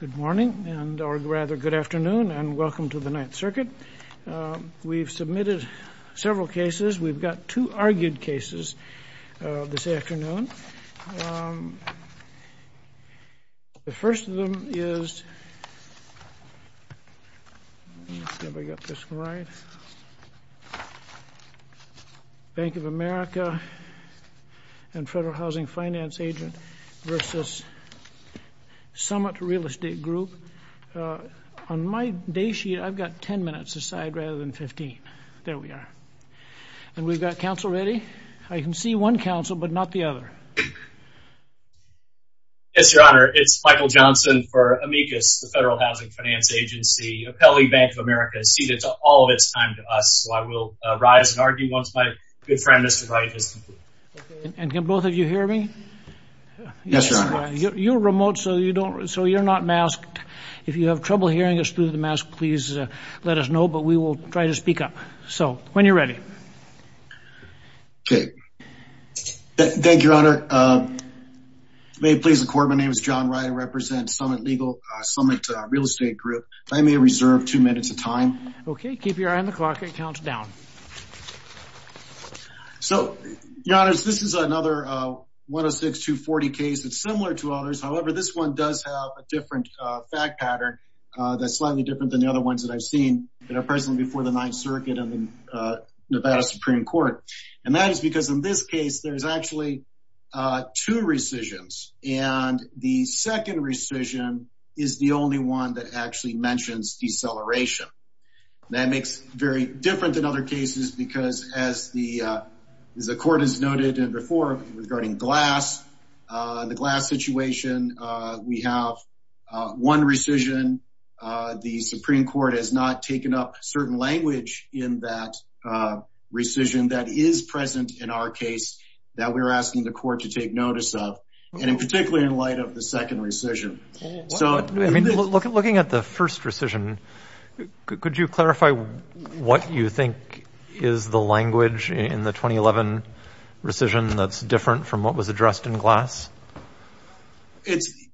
Good morning, or rather good afternoon, and welcome to the Ninth Circuit. We've submitted several cases. We've got two argued cases this afternoon. The first of them is Bank of America and Federal Housing Finance Agent v. Summit Real Estate Group. On my day sheet, I've got 10 minutes aside rather than 15. There we are. And we've got counsel ready. I can see one counsel, but not the other. Yes, Your Honor, it's Michael Johnson for Amicus, the Federal Housing Finance Agency. Appellee Bank of America is seated to all of its time to us, so I will rise and argue once my good friend, Mr. Wright, is seated. And can both of you hear me? Yes, Your Honor. You're remote, so you're not masked. If you have trouble hearing us through the mask, please let us know, but we will try to speak up. So, when you're ready. Okay. Thank you, Your Honor. May it please the Court, my name is John Wright. I represent Summit Real Estate Group. If I may reserve two minutes of time. Okay, keep your eye on the clock and count down. So, Your Honor, this is another 106-240 case. It's similar to others. However, this one does have a different fact pattern that's slightly different than the other ones that I've seen that are present before the Ninth Circuit and the Nevada Supreme Court. And that is because in this case, there's actually two rescissions. And the second rescission is the only one that actually mentions deceleration. That makes it very different than other cases, because as the Court has noted before regarding Glass, the Glass situation, we have one rescission. The Supreme Court has not taken up certain language in that rescission that is present in our case that we're asking the Court to take notice of. And in particular, in light of the second rescission. So, looking at the first rescission, could you clarify what you think is the language in the 2011 rescission that's different from what was addressed in Glass?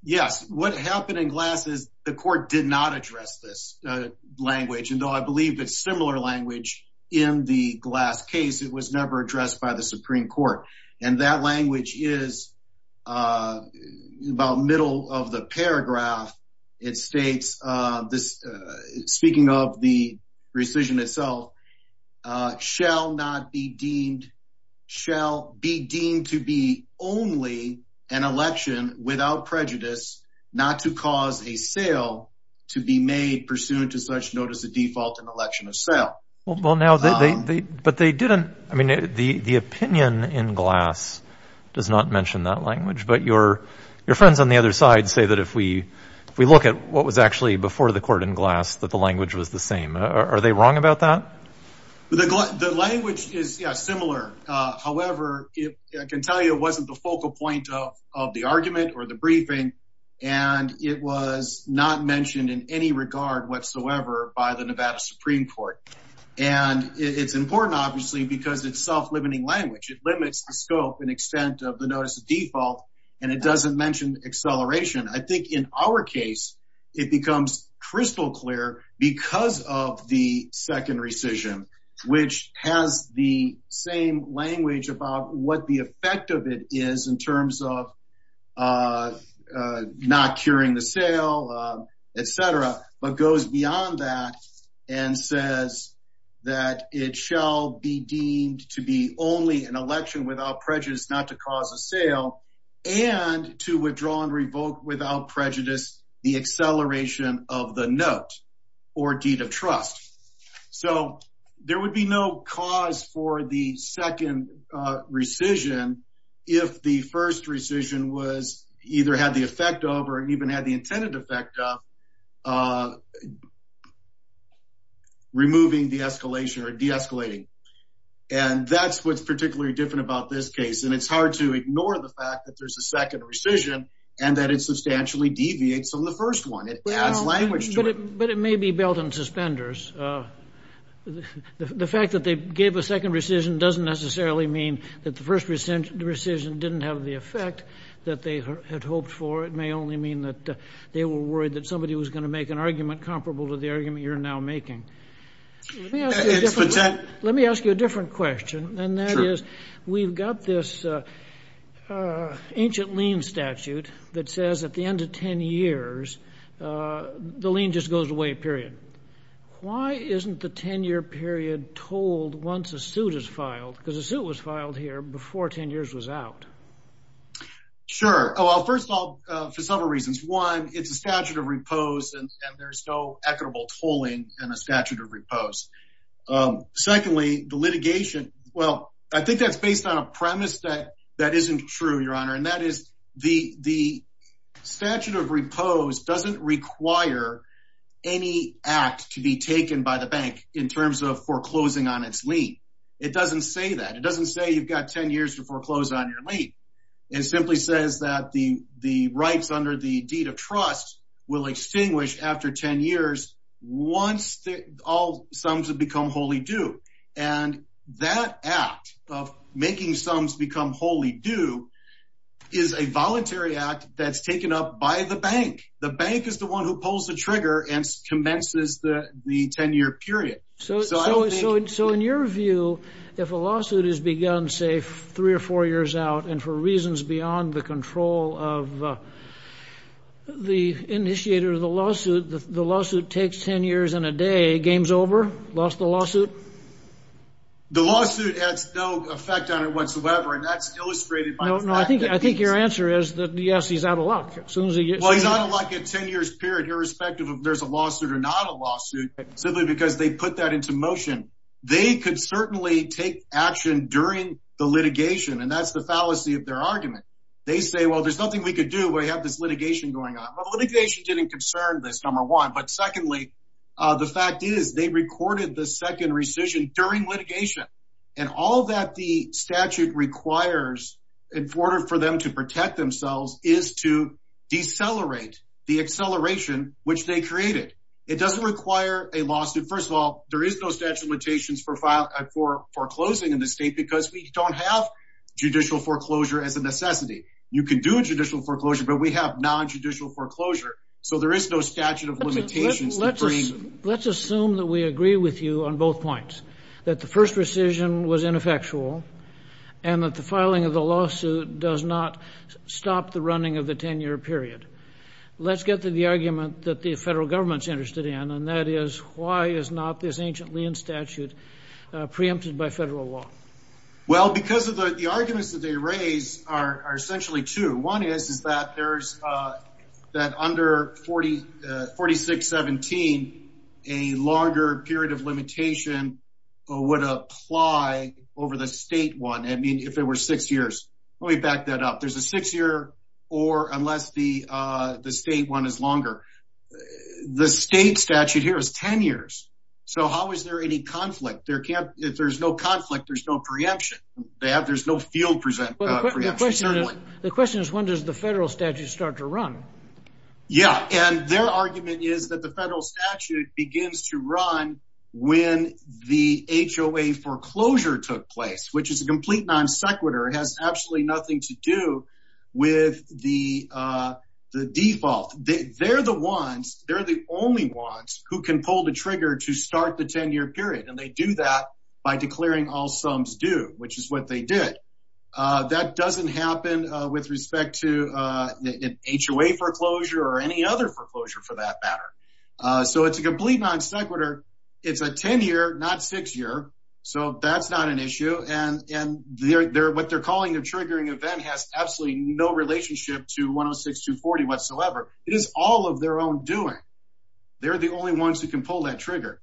Yes, what happened in Glass is the Court did not address this language. And though I believe it's similar language in the Glass case, it was never addressed by the Supreme Court. And that language is about middle of the paragraph. It states this, speaking of the rescission itself, shall not be deemed, shall be deemed to be only an election without prejudice, not to cause a sale to be made pursuant to such notice of default and election of sale. Well, now, they, but they didn't, I mean, the opinion in Glass does not mention that language. But your, your friends on the other side say that if we, if we look at what was actually before the Court in Glass, that the language was the same. Are they wrong about that? The language is similar. However, I can tell you it wasn't the focal point of the argument or the briefing. And it was not mentioned in any regard whatsoever by the Nevada Supreme Court. And it's important, obviously, because it's self-limiting language, it limits the scope and extent of the notice of default. And it doesn't mention acceleration. I think in our case, it becomes crystal clear because of the second rescission, which has the same language about what the effect of it is in terms of not curing the sale, et cetera, but goes beyond that and says that it shall be deemed to be only an election without prejudice, not to cause a sale and to withdraw and revoke without prejudice, the acceleration of the note or deed of trust. So there would be no cause for the second rescission if the first rescission was either had the effect of or even had the intended effect of removing the escalation or deescalating. And that's what's particularly different about this case. And it's hard to ignore the fact that there's a second rescission, and that it substantially deviates on the first one, it adds language to it. But it may be belt and suspenders. The fact that they gave a second rescission doesn't necessarily mean that the first rescission didn't have the effect that they had hoped for. It may only mean that they were worried that somebody was going to make an argument comparable to the argument you're now making. Let me ask you a different question. And that is, we've got this ancient lien statute that says at the end of 10 years, the lien just goes away, period. Why isn't the 10 year period told once a suit is filed, because a suit was filed here before 10 years was out? Sure. Well, first of all, for several reasons. One, it's a statute of repose, and there's no equitable tolling and a statute of repose. Secondly, the litigation, well, I think that's based on a premise that that isn't true, Your Honor. And that is, the statute of repose doesn't require any act to be taken by the bank in terms of foreclosing on its lien. It doesn't say that. It doesn't say you've got 10 years to foreclose on your lien. It simply says that the rights under the deed of trust will extinguish after 10 years, once all sums have become wholly due. And that act of making sums become wholly due is a voluntary act that's taken up by the bank. The bank is the one who pulls the trigger and commences the 10 year period. So in your view, if a lawsuit is begun, say, three or four years out, and for reasons beyond the control of the initiator of the lawsuit, the lawsuit takes 10 years and a day, game's over, lost the lawsuit? The lawsuit has no effect on it whatsoever. And that's illustrated by the fact that... No, no, I think your answer is that yes, he's out of luck as soon as he gets... Well, he's out of luck at 10 years period, irrespective of if there's a lawsuit or not a lawsuit, simply because they put that into motion. They could certainly take action during the litigation. And that's the fallacy of their argument. They say, well, there's nothing we could do. We have this litigation going on. Well, the litigation didn't concern this, number one. But secondly, the fact is they recorded the second rescission during litigation. And all that the statute requires in order for them to protect themselves is to decelerate the acceleration, which they created. It doesn't require a lawsuit. First of all, there is no statute of limitations for foreclosing in the state because we don't have judicial foreclosure as a necessity. You can do judicial foreclosure, but we have non-judicial foreclosure. So there is no statute of limitations. Let's assume that we agree with you on both points, that the first rescission was ineffectual, and that the filing of the lawsuit does not stop the running of the 10-year period. Let's get to the argument that the federal government is interested in, and that is why is not this ancient lien statute preempted by federal law? Well, because of the arguments that they raise are essentially two. One is that under 4617, a longer period of limitation would apply over the state one, I mean, if there were six years. Let me back that up. There's a six-year or unless the state one is longer. The state statute here is 10 years. So how is there any conflict? If there's no conflict, there's no preemption. There's no field preemption, certainly. The question is, when does the federal statute start to run? Yeah, and their argument is that the federal statute begins to run when the HOA foreclosure took place, which is a complete non sequitur. It absolutely nothing to do with the default. They're the ones, they're the only ones who can pull the trigger to start the 10-year period. And they do that by declaring all sums due, which is what they did. That doesn't happen with respect to HOA foreclosure or any other foreclosure for that triggering event has absolutely no relationship to 106-240 whatsoever. It is all of their own doing. They're the only ones who can pull that trigger.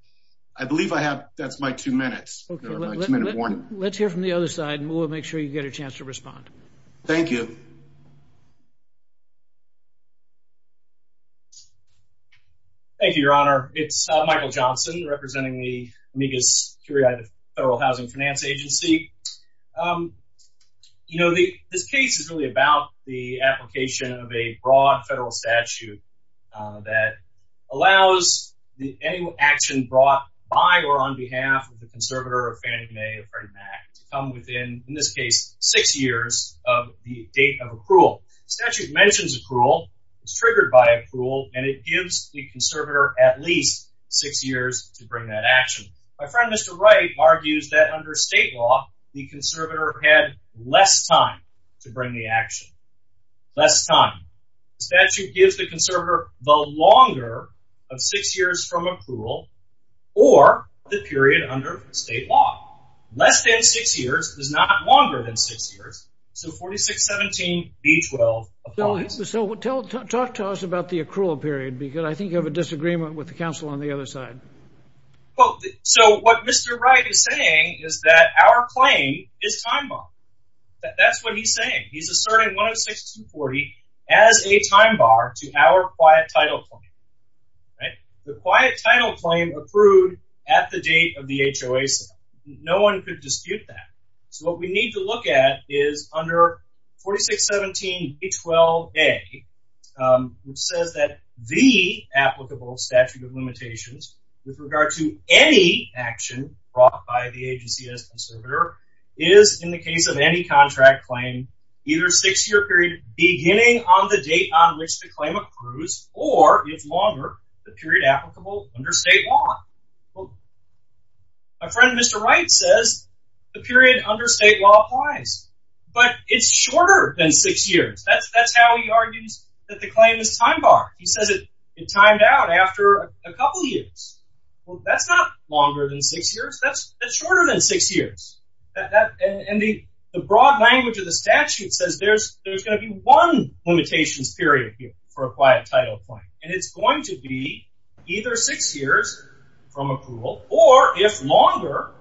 I believe I have that's my two minutes. Let's hear from the other side and we'll make sure you get a chance to respond. Thank you. Thank you, Your Honor. It's Michael Johnson representing the Amicus Curiae, the Federal Housing Finance Agency. You know, the this case is really about the application of a broad federal statute that allows any action brought by or on behalf of the conservator or Fannie Mae or Freddie Mac to come within, in this case, six years of the date of accrual. Statute mentions accrual, it's triggered by accrual, and it gives the conservator at least six years to bring that action. My friend Mr. Wright argues that under state law, the conservator had less time to bring the action. Less time. Statute gives the conservator more than six years. So 4617B12 applies. So talk to us about the accrual period, because I think you have a disagreement with the counsel on the other side. Well, so what Mr. Wright is saying is that our claim is time bar. That's what he's saying. He's asserting 106-240 as a time bar to our quiet title claim. Right? The under 4617B12A, which says that the applicable statute of limitations with regard to any action brought by the agency as conservator is, in the case of any contract claim, either six-year period beginning on the date on which the claim accrues or, if longer, the period applicable under state law. Well, my friend Mr. Wright says the period under state law applies, but it's shorter than six years. That's how he argues that the claim is time bar. He says it timed out after a couple years. Well, that's not longer than six years. That's shorter than six years. And the broad language of the statute says there's going to be one limitations period here for a quiet title claim. And it's going to be either six years from accrual or, if longer,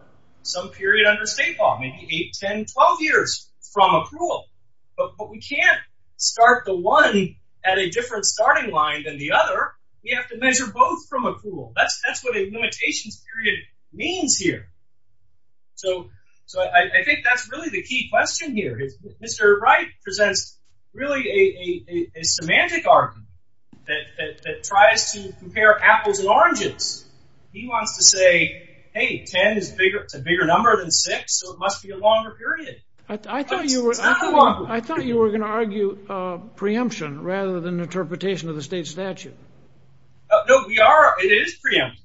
some period under state law, maybe 8, 10, 12 years from accrual. But we can't start the one at a different starting line than the other. We have to measure both from accrual. That's what a limitations period means here. So I think that's really the key question here. Mr. Wright presents really a semantic argument that tries to compare apples and oranges. He wants to say, hey, 10 is a bigger number than six, so it must be a longer period. I thought you were going to argue preemption rather than interpretation of the state statute. No, we are. It is preemptive.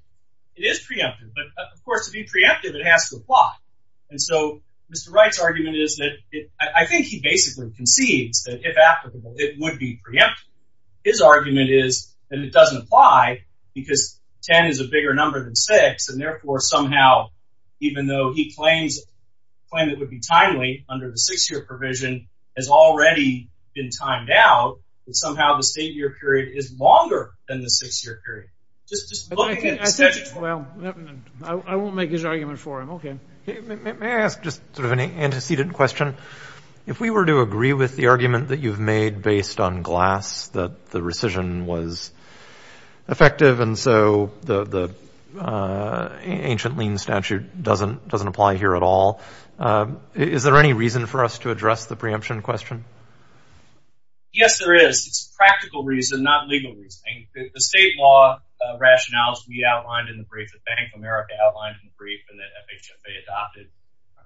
It is preemptive. But of course, to be preemptive, it has to apply. And so Mr. Wright's argument is that I think he basically concedes that if applicable, it would be preemptive. His argument is that it doesn't apply because 10 is a bigger number than six. And therefore, somehow, even though he claims it would be timely under the six-year provision, it has already been timed out. And somehow, the state year period is longer than the six-year period. I won't make his argument for him. May I ask just sort of an antecedent question? If we were to agree with the argument that you've made based on glass, that the statute doesn't apply here at all, is there any reason for us to address the preemption question? Yes, there is. It's practical reason, not legal reasoning. The state law rationales we outlined in the brief that Bank of America outlined in the brief and that FHFA adopted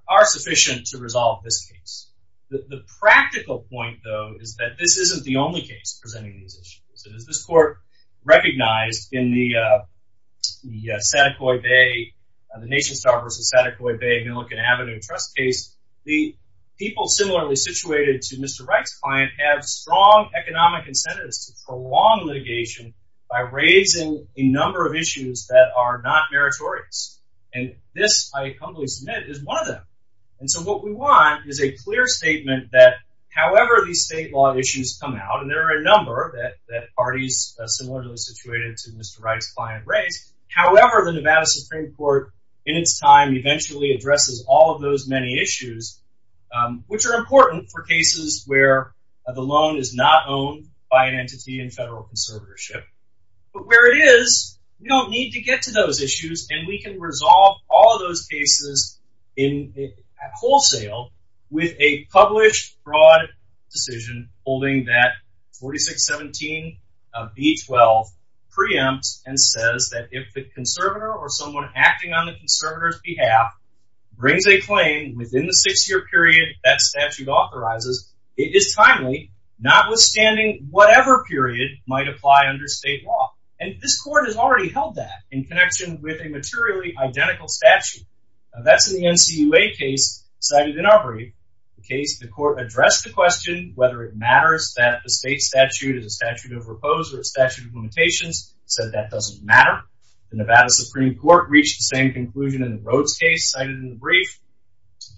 are sufficient to resolve this case. The practical point, though, is that this isn't the only case presenting these issues. And as this court recognized in the NationStar v. Saticoy Bay Millican Avenue trust case, the people similarly situated to Mr. Reich's client have strong economic incentives to prolong litigation by raising a number of issues that are not meritorious. And this, I humbly submit, is one of them. And so what we want is a clear statement that however these state law issues come out, and there are a number that parties similarly situated to Mr. Reich's client However, the Nevada Supreme Court, in its time, eventually addresses all of those many issues, which are important for cases where the loan is not owned by an entity in federal conservatorship. But where it is, we don't need to get to those issues. And we can resolve all those cases in wholesale with a published, broad decision holding that 4617 of B-12 preempts and says that if the conservator or someone acting on the conservator's behalf brings a claim within the six-year period that statute authorizes, it is timely, notwithstanding whatever period might apply under state law. And this court has already held that in connection with a materially identical statute. Now, that's in the NCUA case cited in our brief. The case, the court addressed the question whether it matters that the state statute is a statute of repose or a statute of limitations, said that doesn't matter. The Nevada Supreme Court reached the same conclusion in the Rhodes case cited in the brief.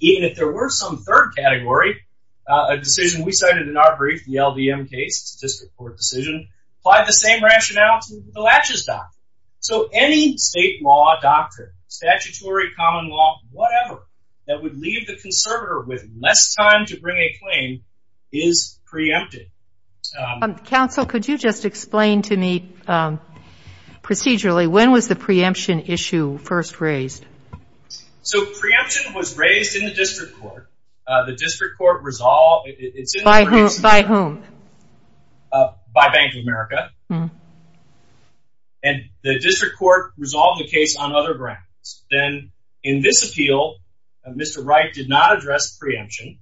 Even if there were some third category, a decision we cited in our brief, the LVM case, a district court decision, applied the same rationality to the Latches doctrine. So any state law doctrine, statutory, common law, whatever, that would leave the conservator with less time to bring a claim is preempted. Counsel, could you just explain to me, procedurally, when was the preemption issue first raised? So preemption was raised in the district court. The district court resolved it. It's in the briefs. By whom? By Bank of America. And the district court resolved the case on other grounds. Then, in this appeal, Mr. Wright did not address preemption.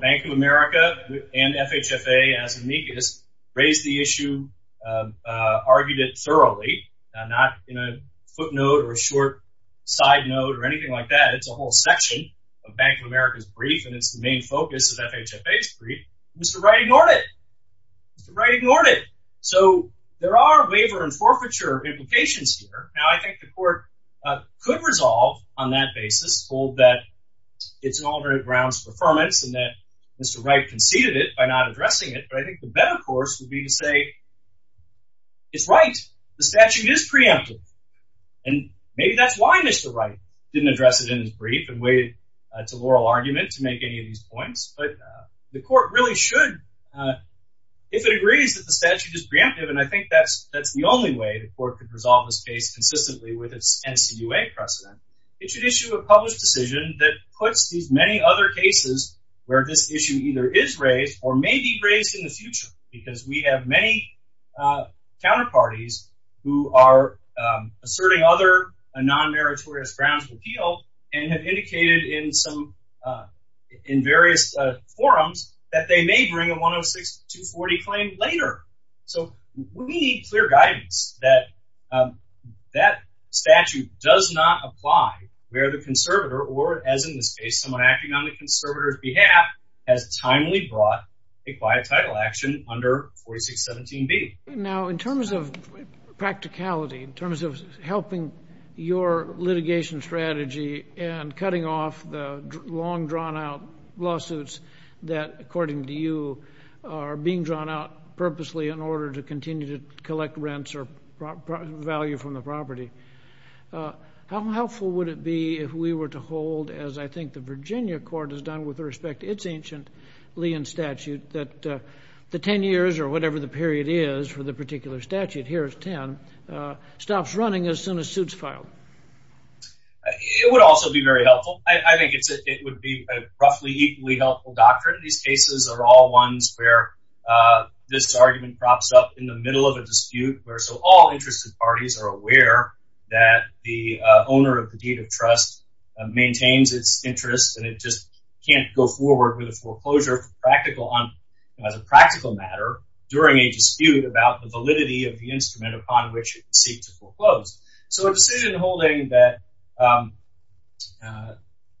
Bank of America and FHFA, as amicus, raised the issue, argued it thoroughly, not in a footnote or a short side note or anything like that. It's a whole section of Bank of America's brief, and it's the main focus of FHFA's brief. Mr. Wright ignored it. Mr. Wright ignored it. So there are waiver and forfeiture implications here. Now, I think the court could resolve on that basis, hold that it's an alternate grounds for affirmance and that Mr. Wright conceded it by not addressing it. But I think the better course would be to say, it's right. The statute is preemptive. And maybe that's why Mr. Wright didn't address it in his brief and waited to oral argument to make any of these points. But the court really should, if it agrees that the statute is preemptive, and I think that's the only way the court could resolve this case consistently with its NCUA precedent, it should issue a published decision that puts these many other cases where this issue either is raised or may be raised in the future. Because we have many counterparties who are asserting other non-meritorious grounds of appeal and have indicated in some, in various forums that they may bring a 106-240 claim later. So we need clear guidance that that statute does not apply where the conservator or, as in this case, someone acting on the conservator's behalf has timely brought a quiet title action under 4617B. Now, in terms of practicality, in terms of helping your litigation strategy and cutting off the long drawn-out lawsuits that, according to you, are being drawn out purposely in order to continue to collect rents or value from the property, how helpful would it be if we were to hold, as I think the Virginia court has done with respect to its ancient Lee and statute, that the 10 years or whatever the period is for the particular statute, here is 10, stops running as soon as suits filed? It would also be very helpful. I think it would be a roughly equally helpful doctrine. And certainly these cases are all ones where this argument crops up in the middle of a dispute, where so all interested parties are aware that the owner of the deed of trust maintains its interest and it just can't go forward with a foreclosure as a practical matter during a dispute about the validity of the instrument upon which it seeks to foreclose. So a decision holding that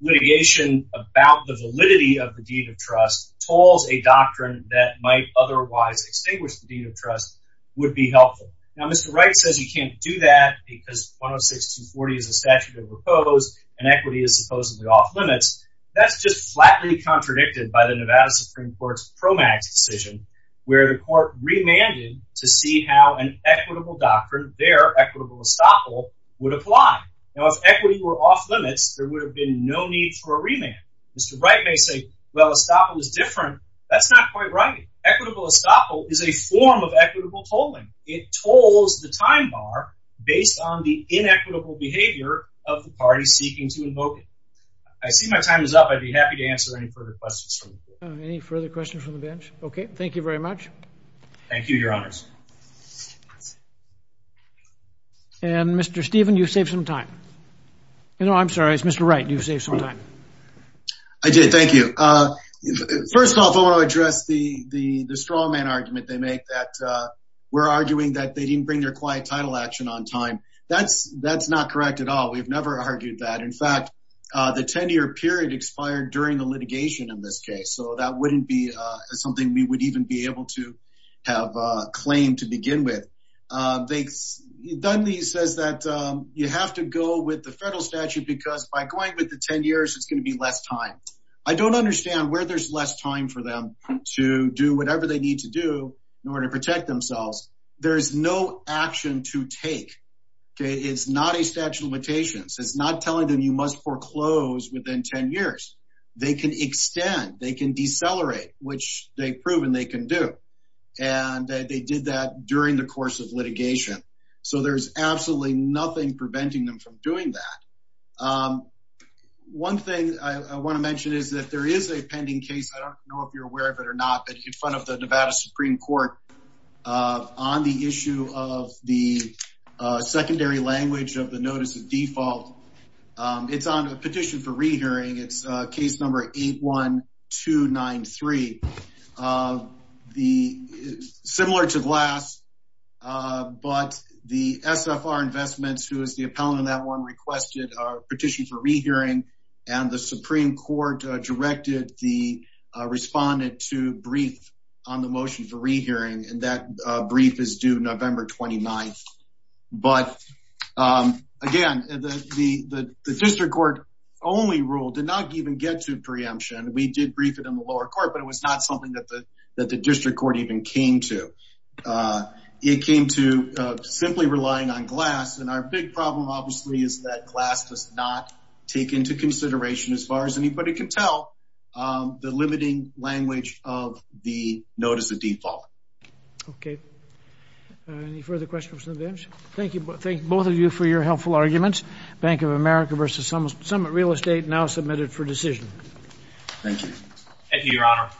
litigation about the validity of the deed of trust tolls a doctrine that might otherwise extinguish the deed of trust would be helpful. Now, Mr. Wright says you can't do that because 106.240 is a statute of repose and equity is supposedly off limits. That's just flatly contradicted by the Nevada Supreme Court's pro max decision, where the court remanded to see how an equitable doctrine, their equitable estoppel would apply. Now, if equity were off limits, there would have been no need for a remand. Mr. Wright may say, well, estoppel is different. That's not quite right. Equitable estoppel is a form of equitable tolling. It tolls the time bar based on the inequitable behavior of the party seeking to invoke it. I see my time is up. I'd be happy to answer any further questions. Any further questions from the bench? OK, thank you very much. Thank you, Your Honors. And Mr. Stephen, you save some time. You know, I'm sorry, it's Mr. Wright. You save some time. I did. Thank you. First off, I want to address the straw man argument they make that we're arguing that they didn't bring their quiet title action on time. That's that's not correct at all. We've never argued that. In fact, the 10 year period expired during the litigation in this case. So that wouldn't be something we would even be able to have claimed to begin with. They said that you have to go with the federal statute because by going with the 10 years, it's going to be less time. I don't understand where there's less time for them to do whatever they need to do in order to protect themselves. There is no action to take. It's not a statute of limitations. It's not telling them you must foreclose within 10 years. They can extend, they can decelerate, which they've proven they can do. And they did that during the course of litigation. So there's absolutely nothing preventing them from doing that. One thing I want to mention is that there is a pending case. I don't know if you're aware of it or not, but in front of the Nevada Supreme Court on the issue of the secondary language of the notice of default. It's on a petition for rehearing. It's case number 81293. Similar to the last, but the SFR Investments, who is the appellant in that one, requested a petition for rehearing and the Supreme Court directed the respondent to And that brief is due November 29th. But again, the district court only rule did not even get to preemption. We did brief it in the lower court, but it was not something that the district court even came to. It came to simply relying on glass. And our big problem, obviously, is that glass does not take into consideration as far as anybody can tell the limiting language of the notice of default. Okay, any further questions from the bench? Thank you. Thank both of you for your helpful arguments. Bank of America versus Summit Real Estate now submitted for decision. Thank you. Thank you, Your Honor.